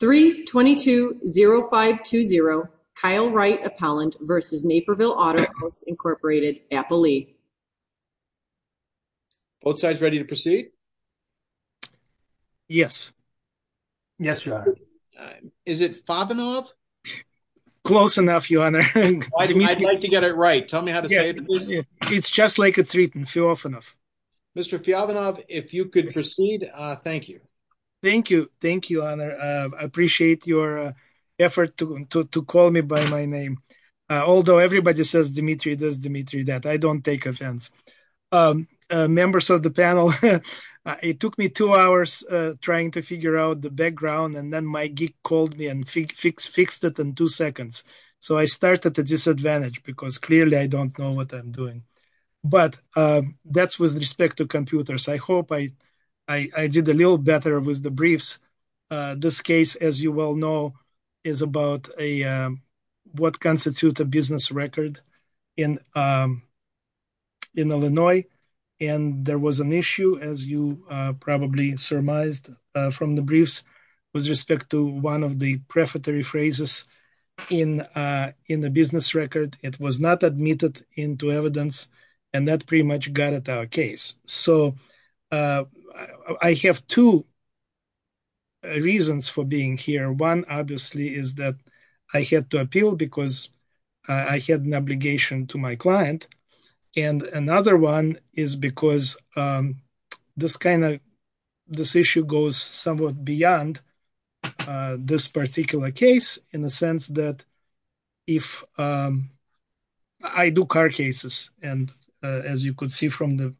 3-22-0520 Kyle Wright Appellant v. Naperville Autohaus, Inc. Apple Lee. Both sides ready to proceed? Yes. Yes, Your Honor. Is it Fyovanov? Close enough, Your Honor. I'd like to get it right. Tell me how to say it, please. It's just like it's written, Fyovanov. Mr. Fyovanov, if you could proceed, thank you. Thank you. Thank you, Your Honor. I appreciate your effort to call me by my name. Although everybody says Dimitri this, Dimitri that. I don't take offense. Members of the panel, it took me two hours trying to figure out the background. And then my geek called me and fixed it in two seconds. So I started at a disadvantage because clearly I don't know what I'm doing. But that's with respect to computers. I hope I did a little better with the briefs. This case, as you well know, is about what constitutes a business record in Illinois. And there was an issue, as you probably surmised from the briefs, with respect to one of the prefatory phrases in the business record. It was not admitted into evidence. And that pretty much got at our case. So I have two reasons for being here. One, obviously, is that I had to appeal because I had an obligation to my client. And another one is because this kind of this issue goes somewhat beyond this particular case in the sense that if I do car cases, and as you could see from the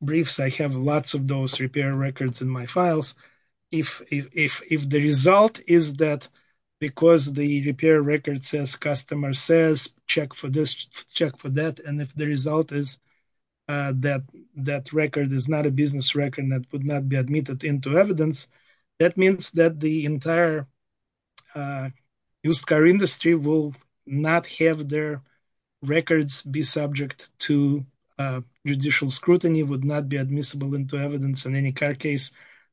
briefs, I have lots of those repair records in my files. If the result is that because the repair record says, customer says, check for this, check for that. And if the result is that that record is not a business record that would not be admitted into evidence, that means that the entire used car industry will not have their records be subject to judicial scrutiny, would not be admissible into evidence in any car case,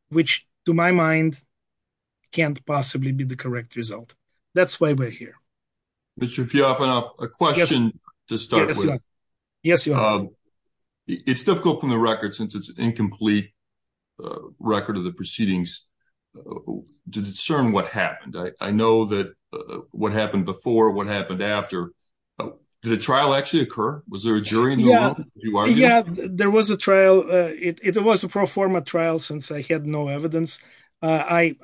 which, to my mind, can't possibly be the correct result. That's why we're here. Mr. Fiofano, a question to start with. Yes, you are. It's difficult from the record, since it's an incomplete record of the proceedings, to discern what happened. I know that what happened before, what happened after. Did a trial actually occur? Was there a jury? Yeah, there was a trial. It was a pro forma trial, since I had no evidence. I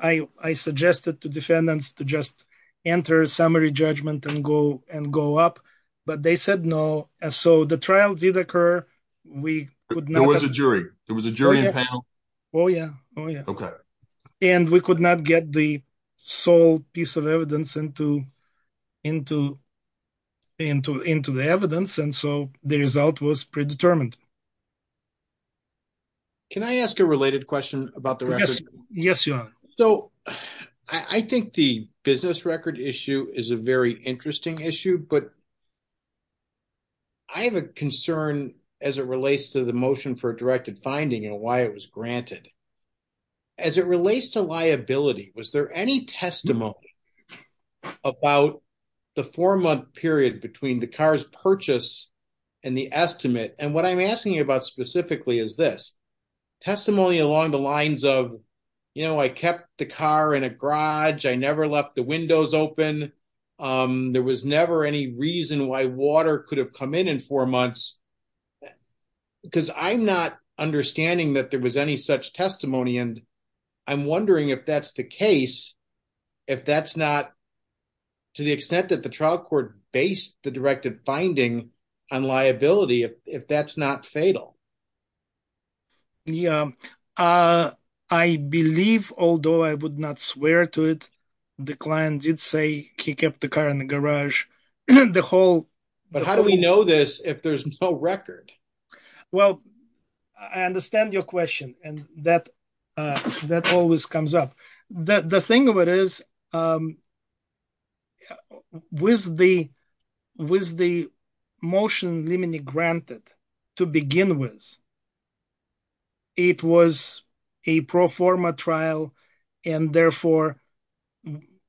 suggested to defendants to just enter a summary judgment and go up. But they said no. So the trial did occur. We could not. There was a jury. There was a jury in panel. Oh, yeah. Okay. And we could not get the sole piece of evidence into the evidence. And so the result was predetermined. Can I ask a related question about the record? Yes, you are. So I think the business record issue is a very interesting issue. But I have a concern as it relates to the motion for a directed finding and why it was granted. As it relates to liability, was there any testimony about the four-month period between the car's purchase and the estimate? And what I'm asking you about specifically is this. Testimony along the lines of, you know, I kept the car in a garage. I never left the windows open. There was never any reason why water could have come in in four months. Because I'm not understanding that there was any such testimony. And I'm wondering if that's the case, if that's not to the extent that the trial court based the directed finding on liability, if that's not fatal. Yeah, I believe, although I would not swear to it, the client did say he kept the car in the garage. The whole... But how do we know this if there's no record? Well, I understand your question. And that always comes up. The thing of it is, with the motion limiting granted to begin with, it was a pro forma trial. And therefore,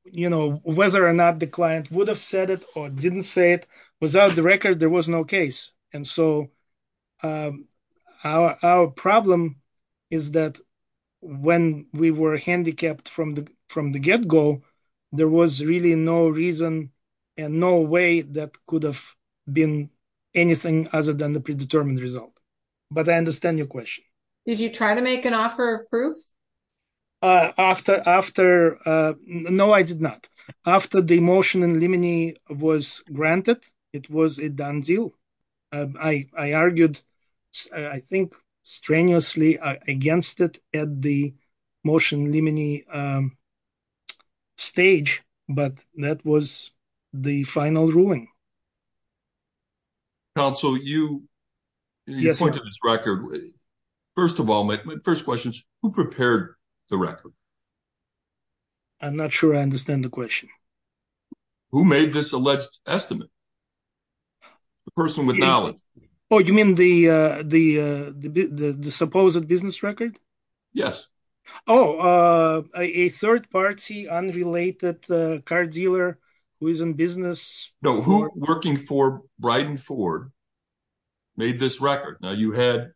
you know, whether or not the client would have said it or didn't say it, without the record, there was no case. And so our problem is that when we were handicapped from the get-go, there was really no reason and no way that could have been anything other than the predetermined result. But I understand your question. Did you try to make an offer of proof? After... No, I did not. After the motion limiting was granted, it was a done deal. I argued, I think, strenuously against it at the motion limiting stage. But that was the final ruling. Counsel, you pointed to this record. First of all, my first question is, who prepared the record? I'm not sure I understand the question. Who made this alleged estimate? The person with knowledge. Oh, you mean the supposed business record? Yes. Oh, a third party, unrelated car dealer who is in business? No, who working for Bryden Ford made this record? Now, you had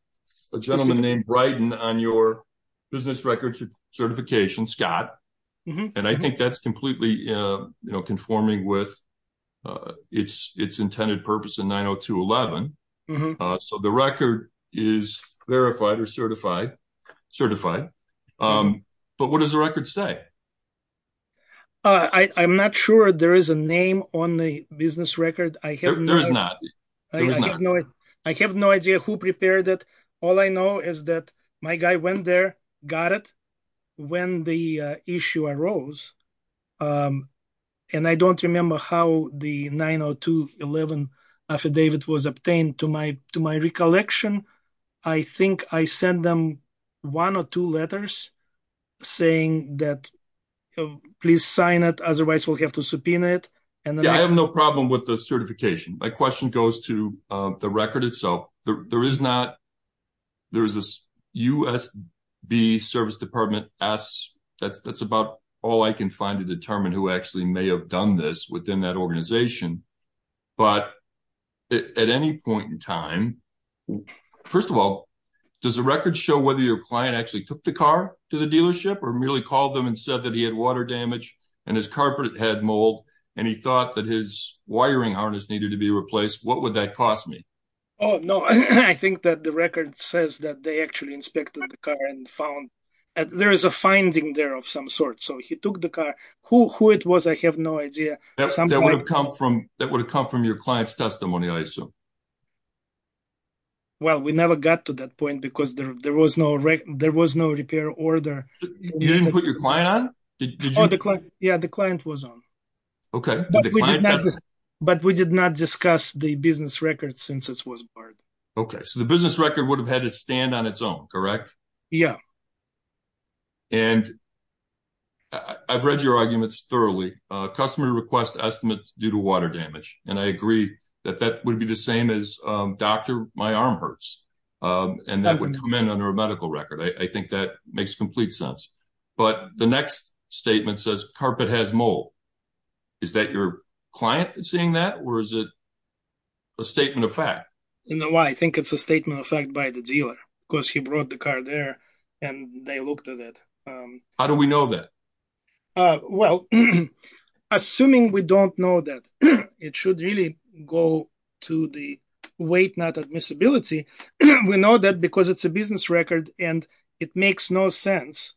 a gentleman named Bryden on your business record certification, Scott. And I think that's completely conforming with its intended purpose in 902.11. So the record is verified or certified. But what does the record say? I'm not sure there is a name on the business record. There is not. I have no idea who prepared it. All I know is that my guy went there, got it when the issue arose. And I don't remember how the 902.11 affidavit was obtained. To my recollection, I think I sent them one or two letters saying that, please sign it, otherwise we'll have to subpoena it. Yeah, I have no problem with the certification. My question goes to the record itself. There is a USB service department that's about all I can find to determine who actually may have done this within that organization. But at any point in time, first of all, does the record show whether your client actually took the car to the dealership or merely called them and said that he had water damage and his wiring harness needed to be replaced? What would that cost me? Oh, no. I think that the record says that they actually inspected the car and found there is a finding there of some sort. So he took the car. Who it was, I have no idea. That would have come from your client's testimony, I assume. Well, we never got to that point because there was no repair order. You didn't put your client on? Yeah, the client was on. Okay. But we did not discuss the business record since it was barred. Okay, so the business record would have had to stand on its own, correct? Yeah. And I've read your arguments thoroughly. Customer requests estimates due to water damage. And I agree that that would be the same as, doctor, my arm hurts. And that would come in under a medical record. I think that makes complete sense. But the next statement says carpet has mold. Is that your client seeing that? Or is it a statement of fact? You know why? I think it's a statement of fact by the dealer because he brought the car there and they looked at it. How do we know that? Well, assuming we don't know that, it should really go to the weight not admissibility. We know that because it's a business record and it makes no sense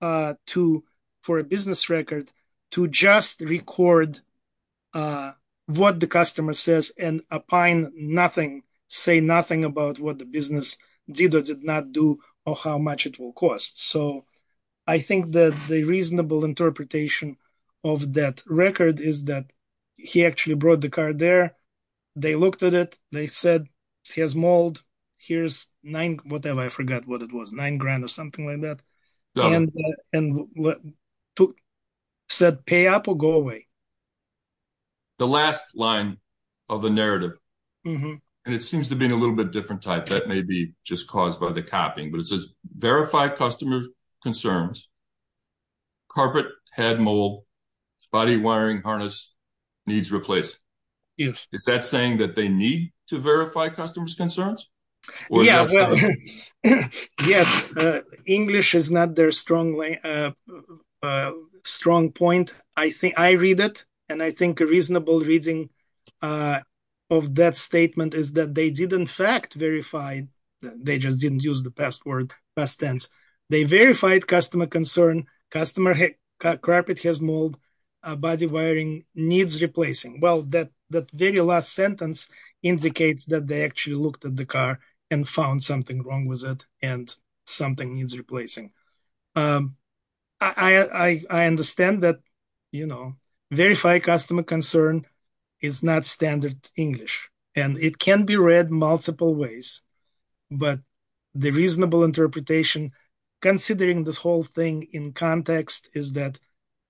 to, for a business record, to just record what the customer says and opine nothing, say nothing about what the business dealer did not do or how much it will cost. So I think that the reasonable interpretation of that record is that he actually brought the car there. They looked at it. They said he has mold. Here's nine, whatever. I forgot what it was, nine grand or something like that. And said pay up or go away. The last line of the narrative, and it seems to be a little bit different type. That may be just caused by the copying, but it says verify customer concerns. Carpet had mold, body wiring harness needs replaced. Is that saying that they need to verify customers concerns? Yeah, well, yes. English is not their strong point. I read it, and I think a reasonable reading of that statement is that they did, in fact, verify they just didn't use the past tense. They verified customer concern. Customer carpet has mold, body wiring needs replacing. Well, that very last sentence indicates that they actually looked at the car and found something wrong with it, and something needs replacing. I understand that verify customer concern is not standard English, and it can be read multiple ways. But the reasonable interpretation, considering this whole thing in context, is that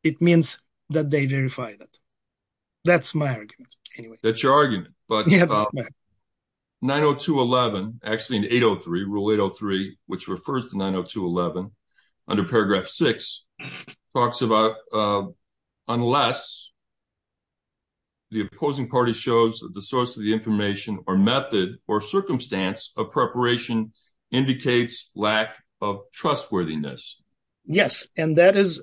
it means that they verified it. That's my argument, anyway. That's your argument, but 902.11, actually in 803, rule 803, which refers to 902.11, under paragraph six, talks about unless the opposing party shows that the source of the information or method or circumstance of preparation indicates lack of trustworthiness. Yes, and that is,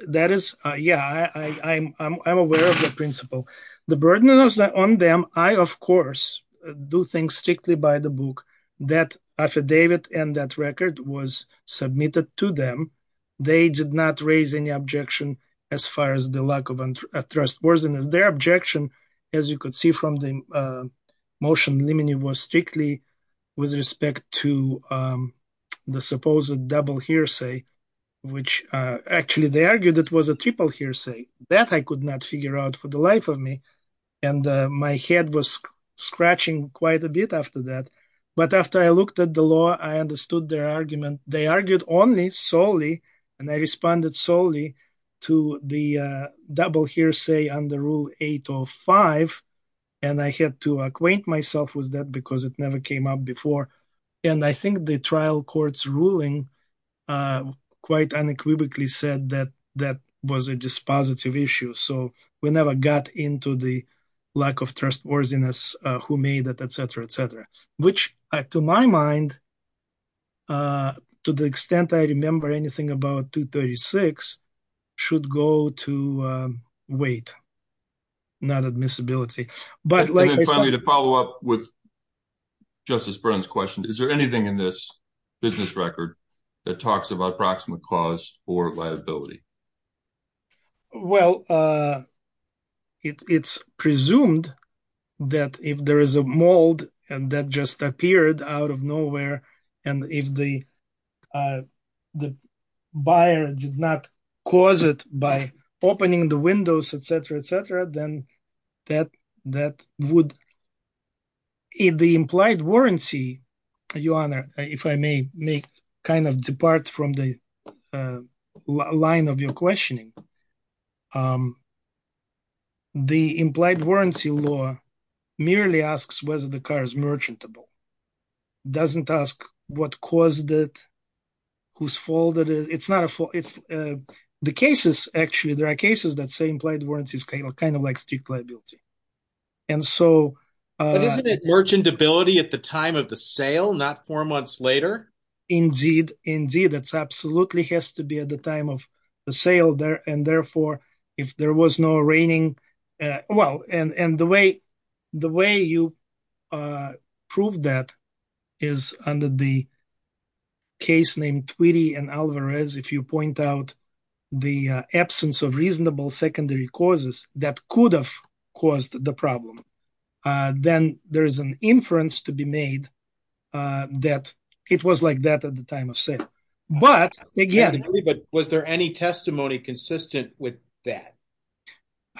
yeah, I'm aware of the principle. The burden is on them. I, of course, do things strictly by the book. That affidavit and that record was submitted to them. They did not raise any objection as far as the lack of trustworthiness. Their objection, as you could see from the motion, was strictly with respect to the supposed double hearsay, which actually they argued it was a triple hearsay. That I could not figure out for the life of me, and my head was scratching quite a bit after that. But after I looked at the law, I understood their argument. They argued only solely, and I responded solely to the double hearsay under rule 805, and I had to acquaint myself with that because it never came up before. And I think the trial court's ruling quite unequivocally said that that was a dispositive issue. So we never got into the lack of trustworthiness, who made it, etc., etc., which, to my mind, to the extent I remember anything about 236, should go to weight, not admissibility. And then finally, to follow up with Justice Brennan's question, is there anything in this business record that talks about proximate cause or liability? Well, it's presumed that if there is a mold, and that just appeared out of nowhere, and if the buyer did not cause it by opening the windows, etc., etc., then that would... If the implied warranty, Your Honor, if I may kind of depart from the line of your questioning, the implied warranty law merely asks whether the car is merchantable, doesn't ask what caused it, whose fault it is. It's not a fault. It's the cases. Actually, there are cases that say implied warranty is kind of like strict liability. And so... But isn't it merchantability at the time of the sale, not four months later? Indeed, indeed. That absolutely has to be at the time of the sale there. And therefore, if there was no reigning... And the way you prove that is under the case named Twitty and Alvarez. If you point out the absence of reasonable secondary causes that could have caused the problem, then there is an inference to be made that it was like that at the time of sale. But again... But was there any testimony consistent with that?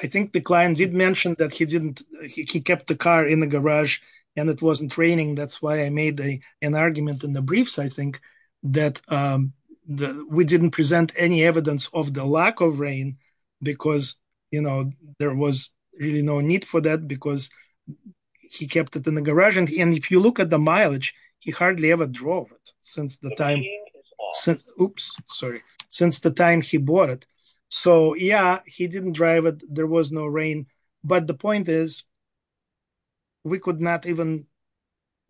I think the client did mention that he kept the car in the garage and it wasn't raining. That's why I made an argument in the briefs, I think, that we didn't present any evidence of the lack of rain because there was really no need for that because he kept it in the garage. And if you look at the mileage, he hardly ever drove it since the time he bought it. So yeah, he didn't drive it. There was no rain. But the point is, we could not even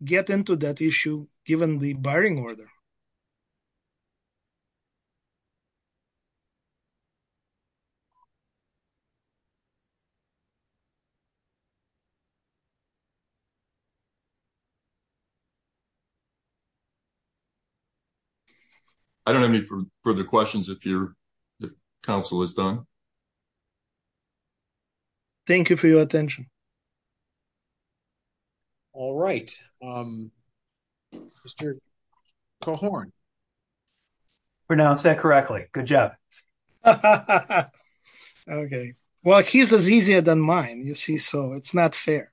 get into that issue given the barring order. I don't have any further questions if the council is done. Thank you for your attention. All right. Mr. Colhorn. Pronounce that correctly. Good job. Okay. Well, he's easier than mine. You see, so it's not fair.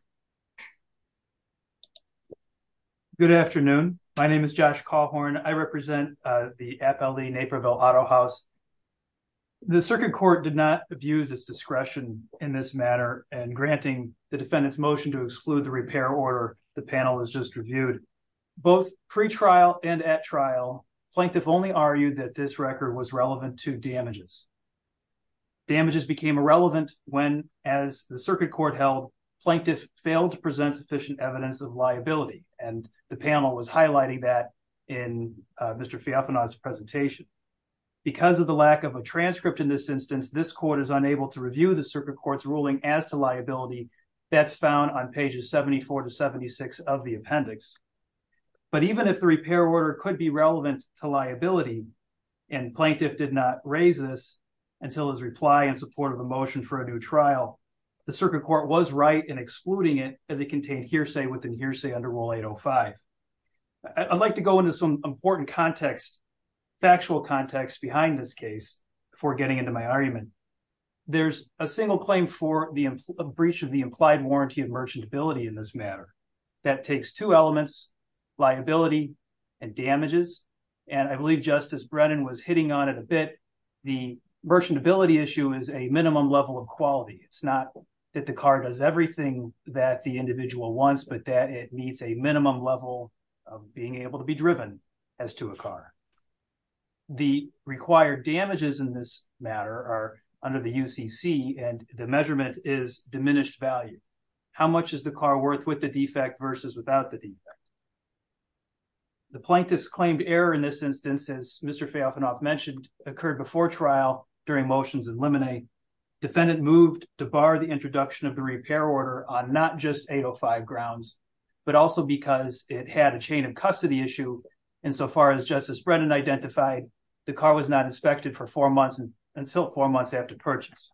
Good afternoon. My name is Josh Colhorn. I represent the FLE Naperville Auto House. The circuit court did not abuse its discretion in this matter and granting the defendant's motion to exclude the repair order, the panel has just reviewed. Both pre-trial and at trial, plaintiff only argued that this record was relevant to damages. Damages became irrelevant when, as the circuit court held, plaintiff failed to present sufficient evidence of liability. And the panel was highlighting that in Mr. Feofanon's presentation. Because of the lack of a transcript in this instance, this court is unable to review the circuit court's ruling as to liability. That's found on pages 74 to 76 of the appendix. But even if the repair order could be relevant to liability and plaintiff did not raise this until his reply in support of a motion for a new trial, the circuit court was right in excluding it as it contained hearsay within hearsay under rule 805. I'd like to go into some important context, factual context behind this case before getting into my argument. There's a single claim for the breach of the implied warranty of merchantability in this matter. That takes two elements, liability and damages. And I believe Justice Brennan was hitting on it a bit. The merchantability issue is a minimum level of quality. It's not that the car does everything that the individual wants, but that it needs a minimum level of being able to be driven as to a car. The required damages in this matter are under the UCC and the measurement is diminished value. How much is the car worth with the defect versus without the defect? The plaintiff's claimed error in this instance, as Mr. Feofanoff mentioned, occurred before trial during motions in limine. Defendant moved to bar the introduction of the repair order on not just 805 grounds, but also because it had a chain of custody issue and so far as Justice Brennan identified, the car was not inspected for four months until four months after purchase.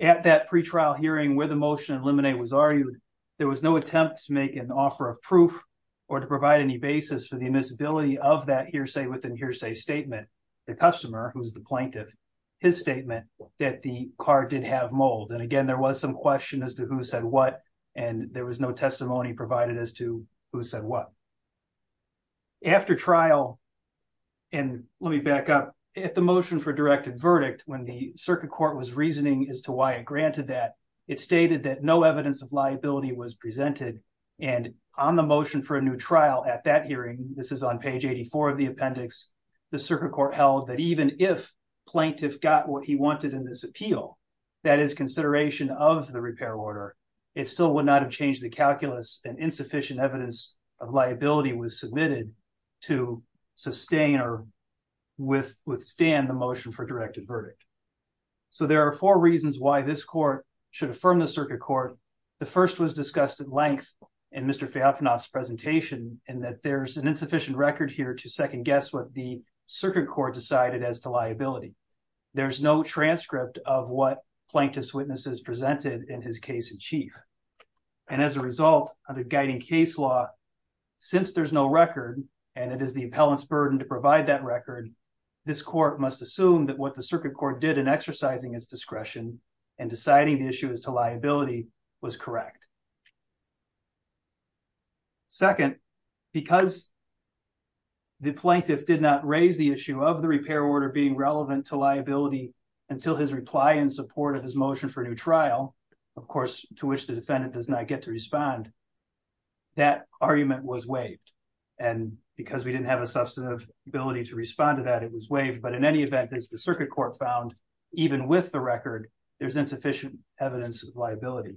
At that pretrial hearing where the motion in limine was argued, there was no attempt to make an offer of proof or to provide any basis for the admissibility of that hearsay within hearsay statement. The customer, who's the plaintiff, his statement that the car did have mold. And again, there was some question as to who said what and there was no testimony provided as to who said what. After trial, and let me back up, at the motion for directed verdict, when the circuit court was reasoning as to why it granted that, it stated that no evidence of liability was presented and on the motion for a new trial at that hearing, this is on page 84 of the appendix, the circuit court held that even if plaintiff got what he wanted in this appeal, that is consideration of the repair order, it still would not have changed the calculus and insufficient evidence of liability was submitted to sustain or withstand the motion for directed verdict. So there are four reasons why this court should affirm the circuit court. The first was discussed at length in Mr. Feofanoff's presentation and that there's an insufficient record here to second guess what the circuit court decided as to liability. There's no transcript of what plaintiff's witnesses presented in his case in chief. And as a result of the guiding case law, since there's no record and it is the appellant's burden to provide that record, this court must assume that what the circuit court did in exercising its discretion and deciding the issue as to liability was correct. Second, because the plaintiff did not raise the issue of the repair order being relevant to liability until his reply in support of his motion for a new trial, of course, to which the defendant does not get to respond, that argument was waived. And because we didn't have a substantive ability to respond to that, it was waived. But in any event, as the circuit court found, even with the record, there's insufficient evidence of liability.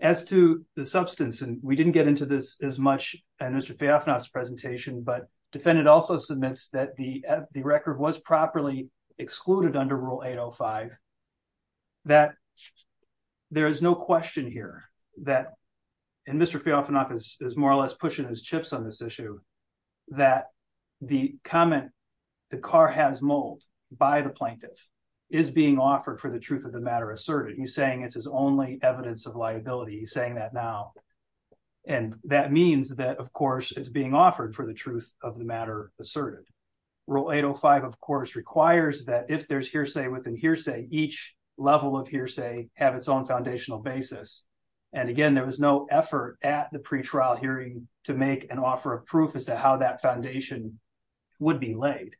As to the substance, and we didn't get into this as much in Mr. Feofanoff's presentation, but defendant also submits that the record was properly excluded under Rule 805. That there is no question here that, and Mr. Feofanoff is more or less pushing his chips on this issue, that the comment, the car has mold by the plaintiff is being offered for the truth of the matter asserted. He's saying it's his only evidence of liability. He's saying that now. And that means that, of course, it's being offered for the truth of the matter asserted. Rule 805, of course, requires that if there's hearsay within hearsay, each level of hearsay have its own foundational basis. And again, there was no effort at the pretrial hearing to make an offer of proof as to how that foundation would be laid.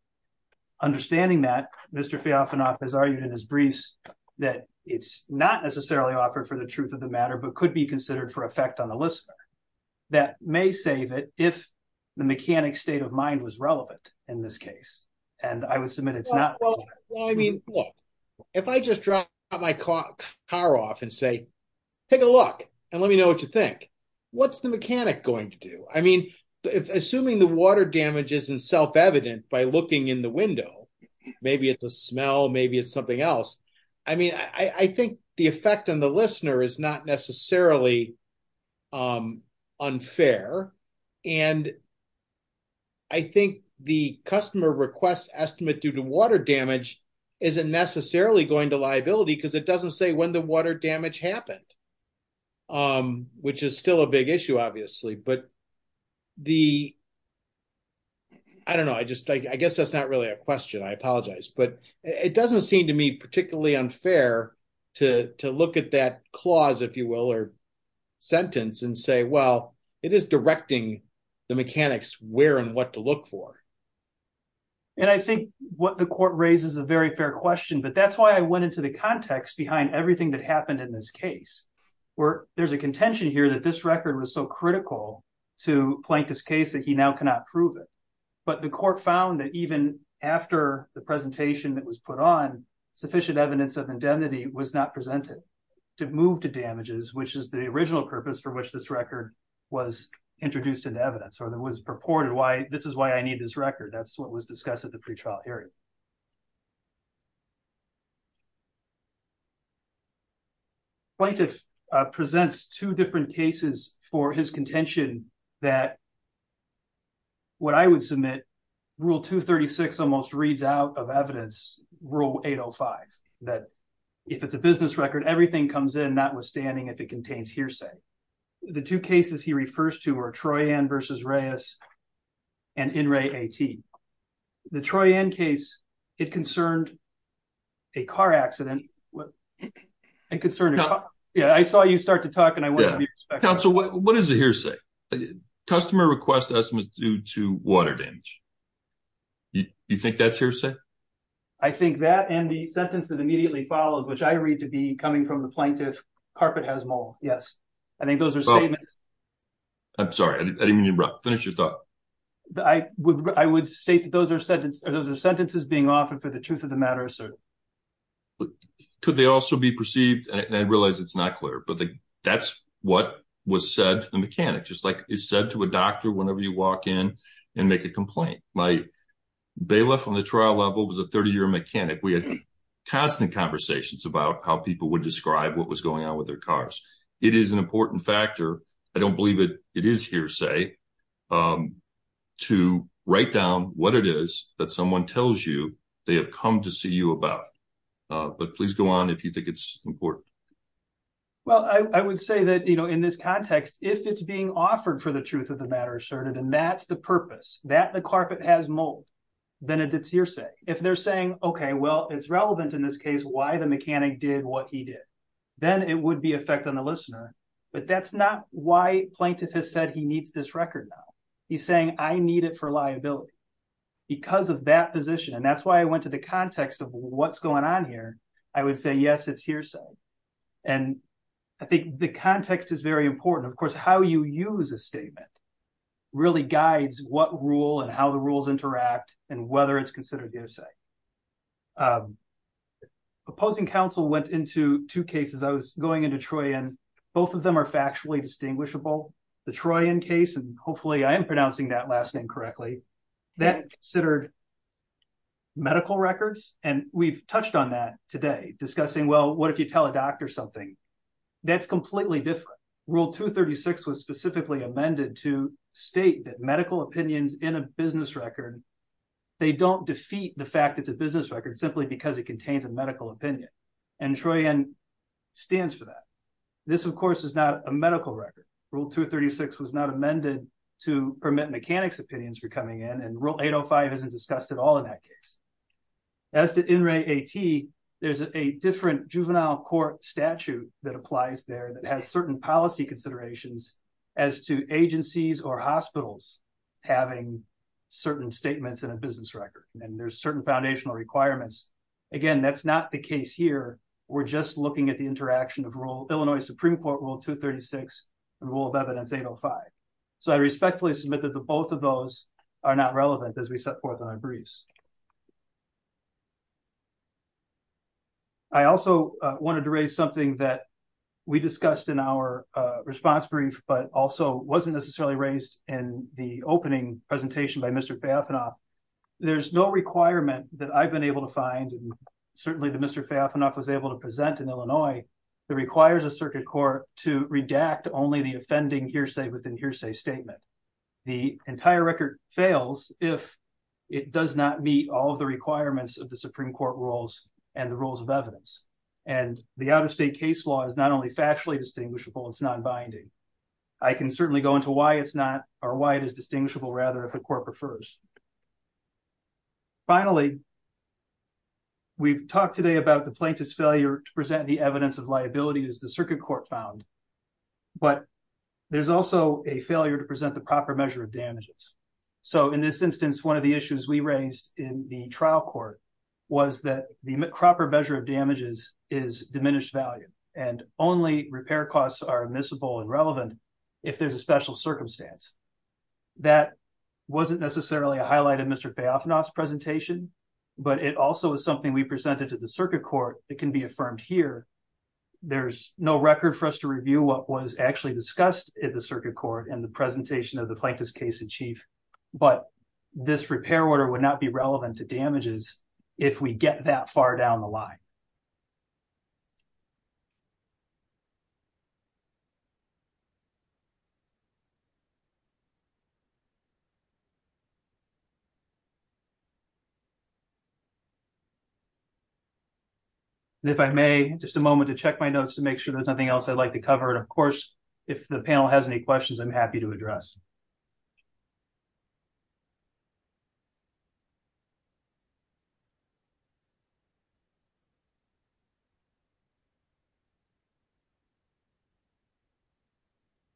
Understanding that, Mr. Feofanoff has argued in his briefs that it's not necessarily offered for the truth of the matter, but could be considered for effect on the listener. That may save it if the mechanic state of mind was relevant in this case. And I would submit it's not. Well, I mean, look, if I just drop my car off and say, take a look and let me know what you think. What's the mechanic going to do? I mean, assuming the water damage isn't self-evident by looking in the window, maybe it's a smell, maybe it's something else. I mean, I think the effect on the listener is not necessarily unfair. And I think the customer request estimate due to water damage isn't necessarily going to liability because it doesn't say when the water damage happened, which is still a big issue, obviously. But I don't know, I guess that's not really a question. I apologize. But it doesn't seem to me particularly unfair to look at that clause, if you will, sentence and say, well, it is directing the mechanics where and what to look for. And I think what the court raises a very fair question, but that's why I went into the context behind everything that happened in this case, where there's a contention here that this record was so critical to Plankton's case that he now cannot prove it. But the court found that even after the presentation that was put on sufficient evidence of indemnity was not presented to move to damages, which is the original purpose for which this record was introduced into evidence or that was purported, this is why I need this record. That's what was discussed at the pretrial hearing. Plankton presents two different cases for his contention that what I would submit rule 236 almost reads out of evidence rule 805, that if it's a business record, everything comes in notwithstanding if it contains hearsay. The two cases he refers to are Troy-Ann versus Reyes and In-Ray A.T. The Troy-Ann case, it concerned a car accident. Yeah, I saw you start to talk and I want to be respectful. Council, what is a hearsay? Customer request estimates due to water damage. You think that's hearsay? I think that and the sentence that immediately follows, which I read to be coming from the plaintiff, carpet has mold, yes. I think those are statements. I'm sorry, I didn't mean to interrupt. Finish your thought. I would state that those are sentences being offered for the truth of the matter asserted. Could they also be perceived? I realize it's not clear, but that's what was said to the mechanic, just like it's said to a doctor whenever you walk in and make a complaint. My bailiff on the trial level was a 30-year mechanic. We had constant conversations about how people would describe what was going on with their cars. It is an important factor. I don't believe it is hearsay to write down what it is that someone tells you they have come to see you about. But please go on if you think it's important. Well, I would say that in this context, if it's being offered for the truth of the matter asserted, and that's the purpose, that the carpet has mold, then it's hearsay. If they're saying, okay, well, it's relevant in this case why the mechanic did what he did, then it would be effect on the listener. But that's not why plaintiff has said he needs this record now. He's saying, I need it for liability because of that position. And that's why I went to the context of what's going on here. I would say, yes, it's hearsay. And I think the context is very important. Of course, how you use a statement really guides what rule and how the rules interact and whether it's considered hearsay. Opposing counsel went into two cases. I was going into Troyan. Both of them are factually distinguishable. The Troyan case, and hopefully I am pronouncing that last name correctly, that considered medical records. And we've touched on that today discussing, well, what if you tell a doctor something? That's completely different. Rule 236 was specifically amended to state that medical opinions in a business record, they don't defeat the fact it's a business record simply because it contains a medical opinion. And Troyan stands for that. This, of course, is not a medical record. Rule 236 was not amended to permit mechanics opinions for coming in. And rule 805 isn't discussed at all in that case. As to INRAE-AT, there's a different juvenile court statute that applies there that has certain policy considerations as to agencies or hospitals having certain statements in a business record. And there's certain foundational requirements. Again, that's not the case here. We're just looking at the interaction of Illinois Supreme Court Rule 236 and Rule of Evidence 805. So I respectfully submit that the both of those are not relevant as we set forth in our briefs. I also wanted to raise something that we discussed in our response brief, but also wasn't necessarily raised in the opening presentation by Mr. Baffinoff. There's no requirement that I've been able to find, and certainly that Mr. Baffinoff was able to present in Illinois, that requires a circuit court to redact only the offending hearsay within hearsay statement. The entire record fails if it does not meet all of the requirements of the Supreme Court rules and the Rules of Evidence. And the out-of-state case law is not only factually distinguishable, it's non-binding. I can certainly go into why it's not, or why it is distinguishable, rather, if the court prefers. Finally, we've talked today about the plaintiff's failure to present the evidence of liability as the circuit court found, but there's also a failure to present the proper measure of damages. So in this instance, one of the issues we raised in the trial court was that the proper measure of damages is diminished value, and only repair costs are admissible and relevant if there's a special circumstance. That wasn't necessarily a highlight of Mr. Kpiafna's presentation, but it also is something we presented to the circuit court that can be affirmed here. There's no record for us to review what was actually discussed at the circuit court in the presentation of the Plaintiff's Case-in-Chief, but this repair order would not be relevant to damages if we get that far down the line. And if I may, just a moment to check my notes to make sure there's nothing else I'd like to cover. And of course, if the panel has any questions, I'm happy to address.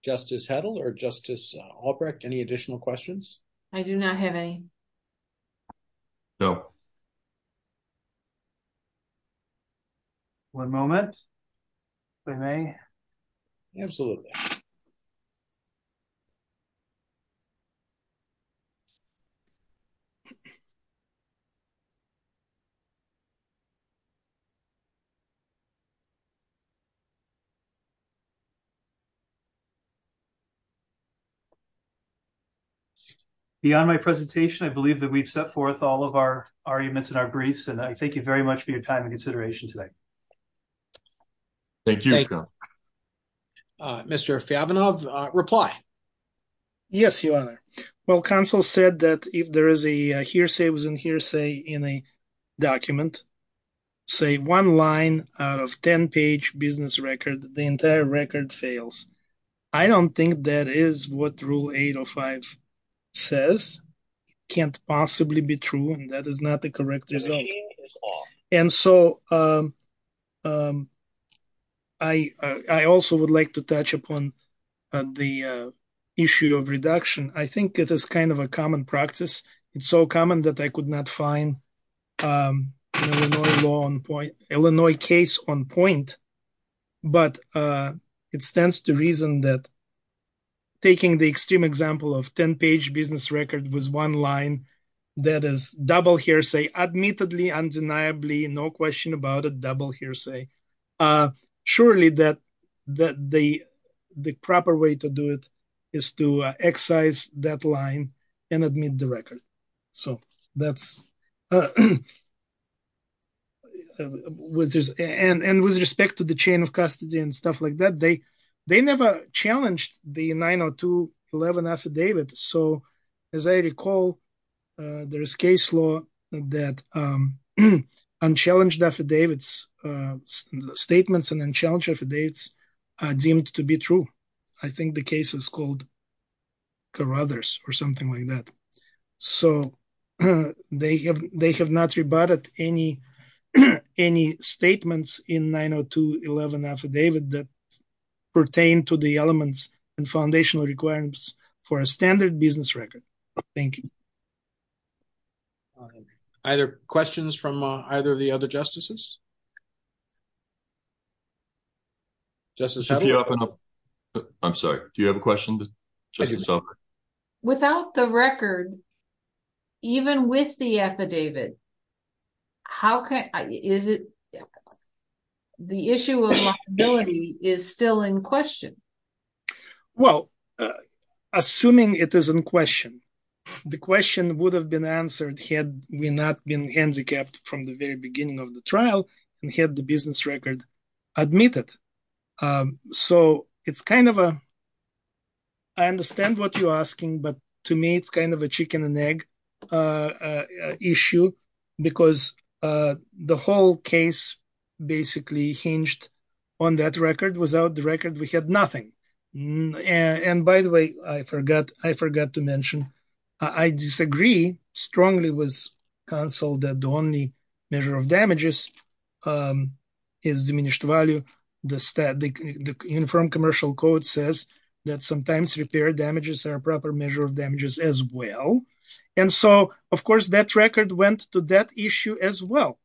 Justice Hedl or Justice Olson? Any additional questions? I do not have any. No. One moment, if I may. Absolutely. Thank you. Beyond my presentation, I believe that we've set forth all of our arguments and our briefs, and I thank you very much for your time and consideration today. Thank you. Mr. Fyavanov, reply. Yes, Your Honor. Well, counsel said that if there is a hearsay within hearsay in a document, say one line out of 10-page business record, the entire record fails. I don't think that is what Rule 805 says. It can't possibly be true, and that is not the correct result. And so I also would like to touch upon the issue of reduction. I think it is kind of a common practice. It's so common that I could not find Illinois case on point, but it stands to reason that taking the extreme example of 10-page business record was one line that is double hearsay, admittedly, undeniably, no question about it, double hearsay. Surely that the proper way to do it is to excise that line and admit the record. So that's... And with respect to the chain of custody and stuff like that, they never challenged the 902.11 affidavit. So as I recall, there is case law that unchallenged affidavits, statements and unchallenged affidavits deemed to be true. I think the case is called Carothers or something like that. So they have not rebutted any statements in 902.11 affidavit that pertain to the elements and foundational requirements for a standard business record. Thank you. All right. Either questions from either of the other justices? Justice... I'm sorry. Do you have a question? Without the record, even with the affidavit, is it... The issue of liability is still in question. Well, assuming it is in question, the question would have been answered had we not been handicapped from the very beginning of the trial and had the business record admitted. So it's kind of a... I understand what you're asking, but to me, it's kind of a chicken and egg issue because the whole case basically hinged on that record. Without the record, we had nothing. And by the way, I forgot to mention, I disagree strongly with counsel that the only measure of damages is diminished value. The uniform commercial code says that sometimes repair damages are a proper measure of damages as well. And so, of course, that record went to that issue as well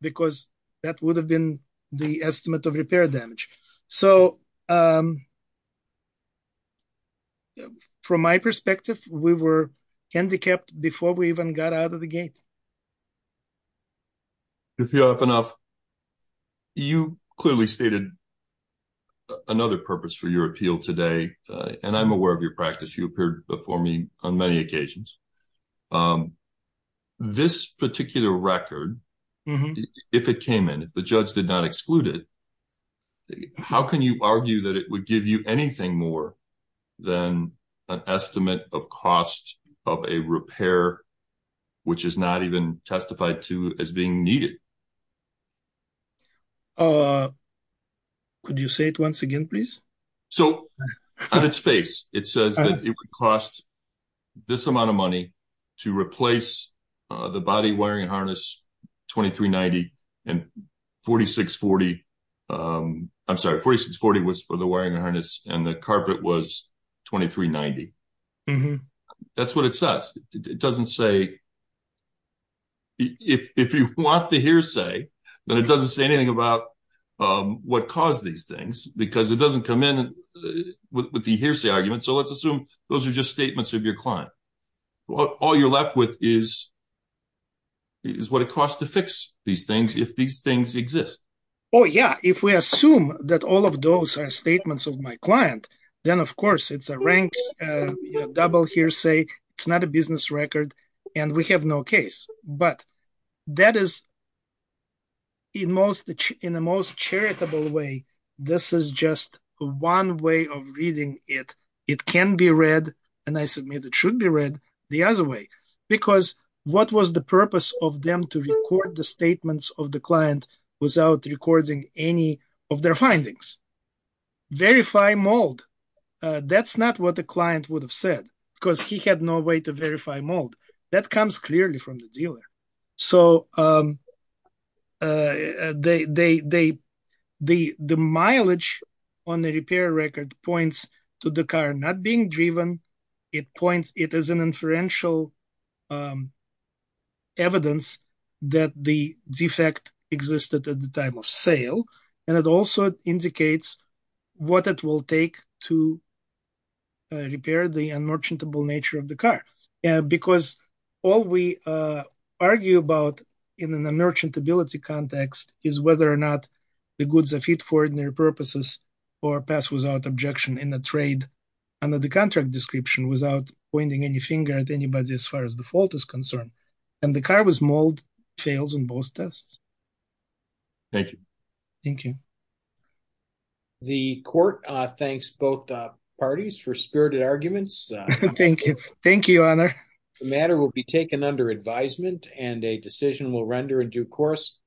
because that would have been the estimate of repair damage. So... From my perspective, we were handicapped before we even got out of the gate. To be fair enough, you clearly stated another purpose for your appeal today. And I'm aware of your practice. You appeared before me on many occasions. This particular record, if it came in, if the judge did not exclude it, how can you argue that it would give you anything more than an estimate of cost of a repair which is not even testified to as being needed? Could you say it once again, please? So, on its face, it says that it would cost this amount of money to replace the body wiring harness 2390 and 4640. I'm sorry, 4640 was for the wiring harness and the carpet was 2390. That's what it says. It doesn't say... If you want the hearsay, then it doesn't say anything about what caused these things because it doesn't come in with the hearsay argument. So let's assume those are just statements of your client. All you're left with is what it costs to fix these things if these things exist. Oh, yeah. If we assume that all of those are statements of my client, then, of course, it's a ranked double hearsay. It's not a business record and we have no case. But that is in the most charitable way. This is just one way of reading it. It can be read and I submit it should be read the other way because what was the purpose of them to record the statements of the client without recording any of their findings? Verify mold. That's not what the client would have said because he had no way to verify mold. That comes clearly from the dealer. So the mileage on the repair record points to the car not being driven it points it as an inferential evidence that the defect existed at the time of sale. And it also indicates what it will take to repair the unmerchantable nature of the car. Because all we argue about in an unmerchantability context is whether or not the goods are fit for ordinary purposes or pass without objection in a trade under the contract description without pointing any finger at anybody as far as the fault is concerned. And the car was mold fails in both tests. Thank you. Thank you. The court thanks both parties for spirited arguments. Thank you. Thank you, Honor. The matter will be taken under advisement and a decision will render a due course.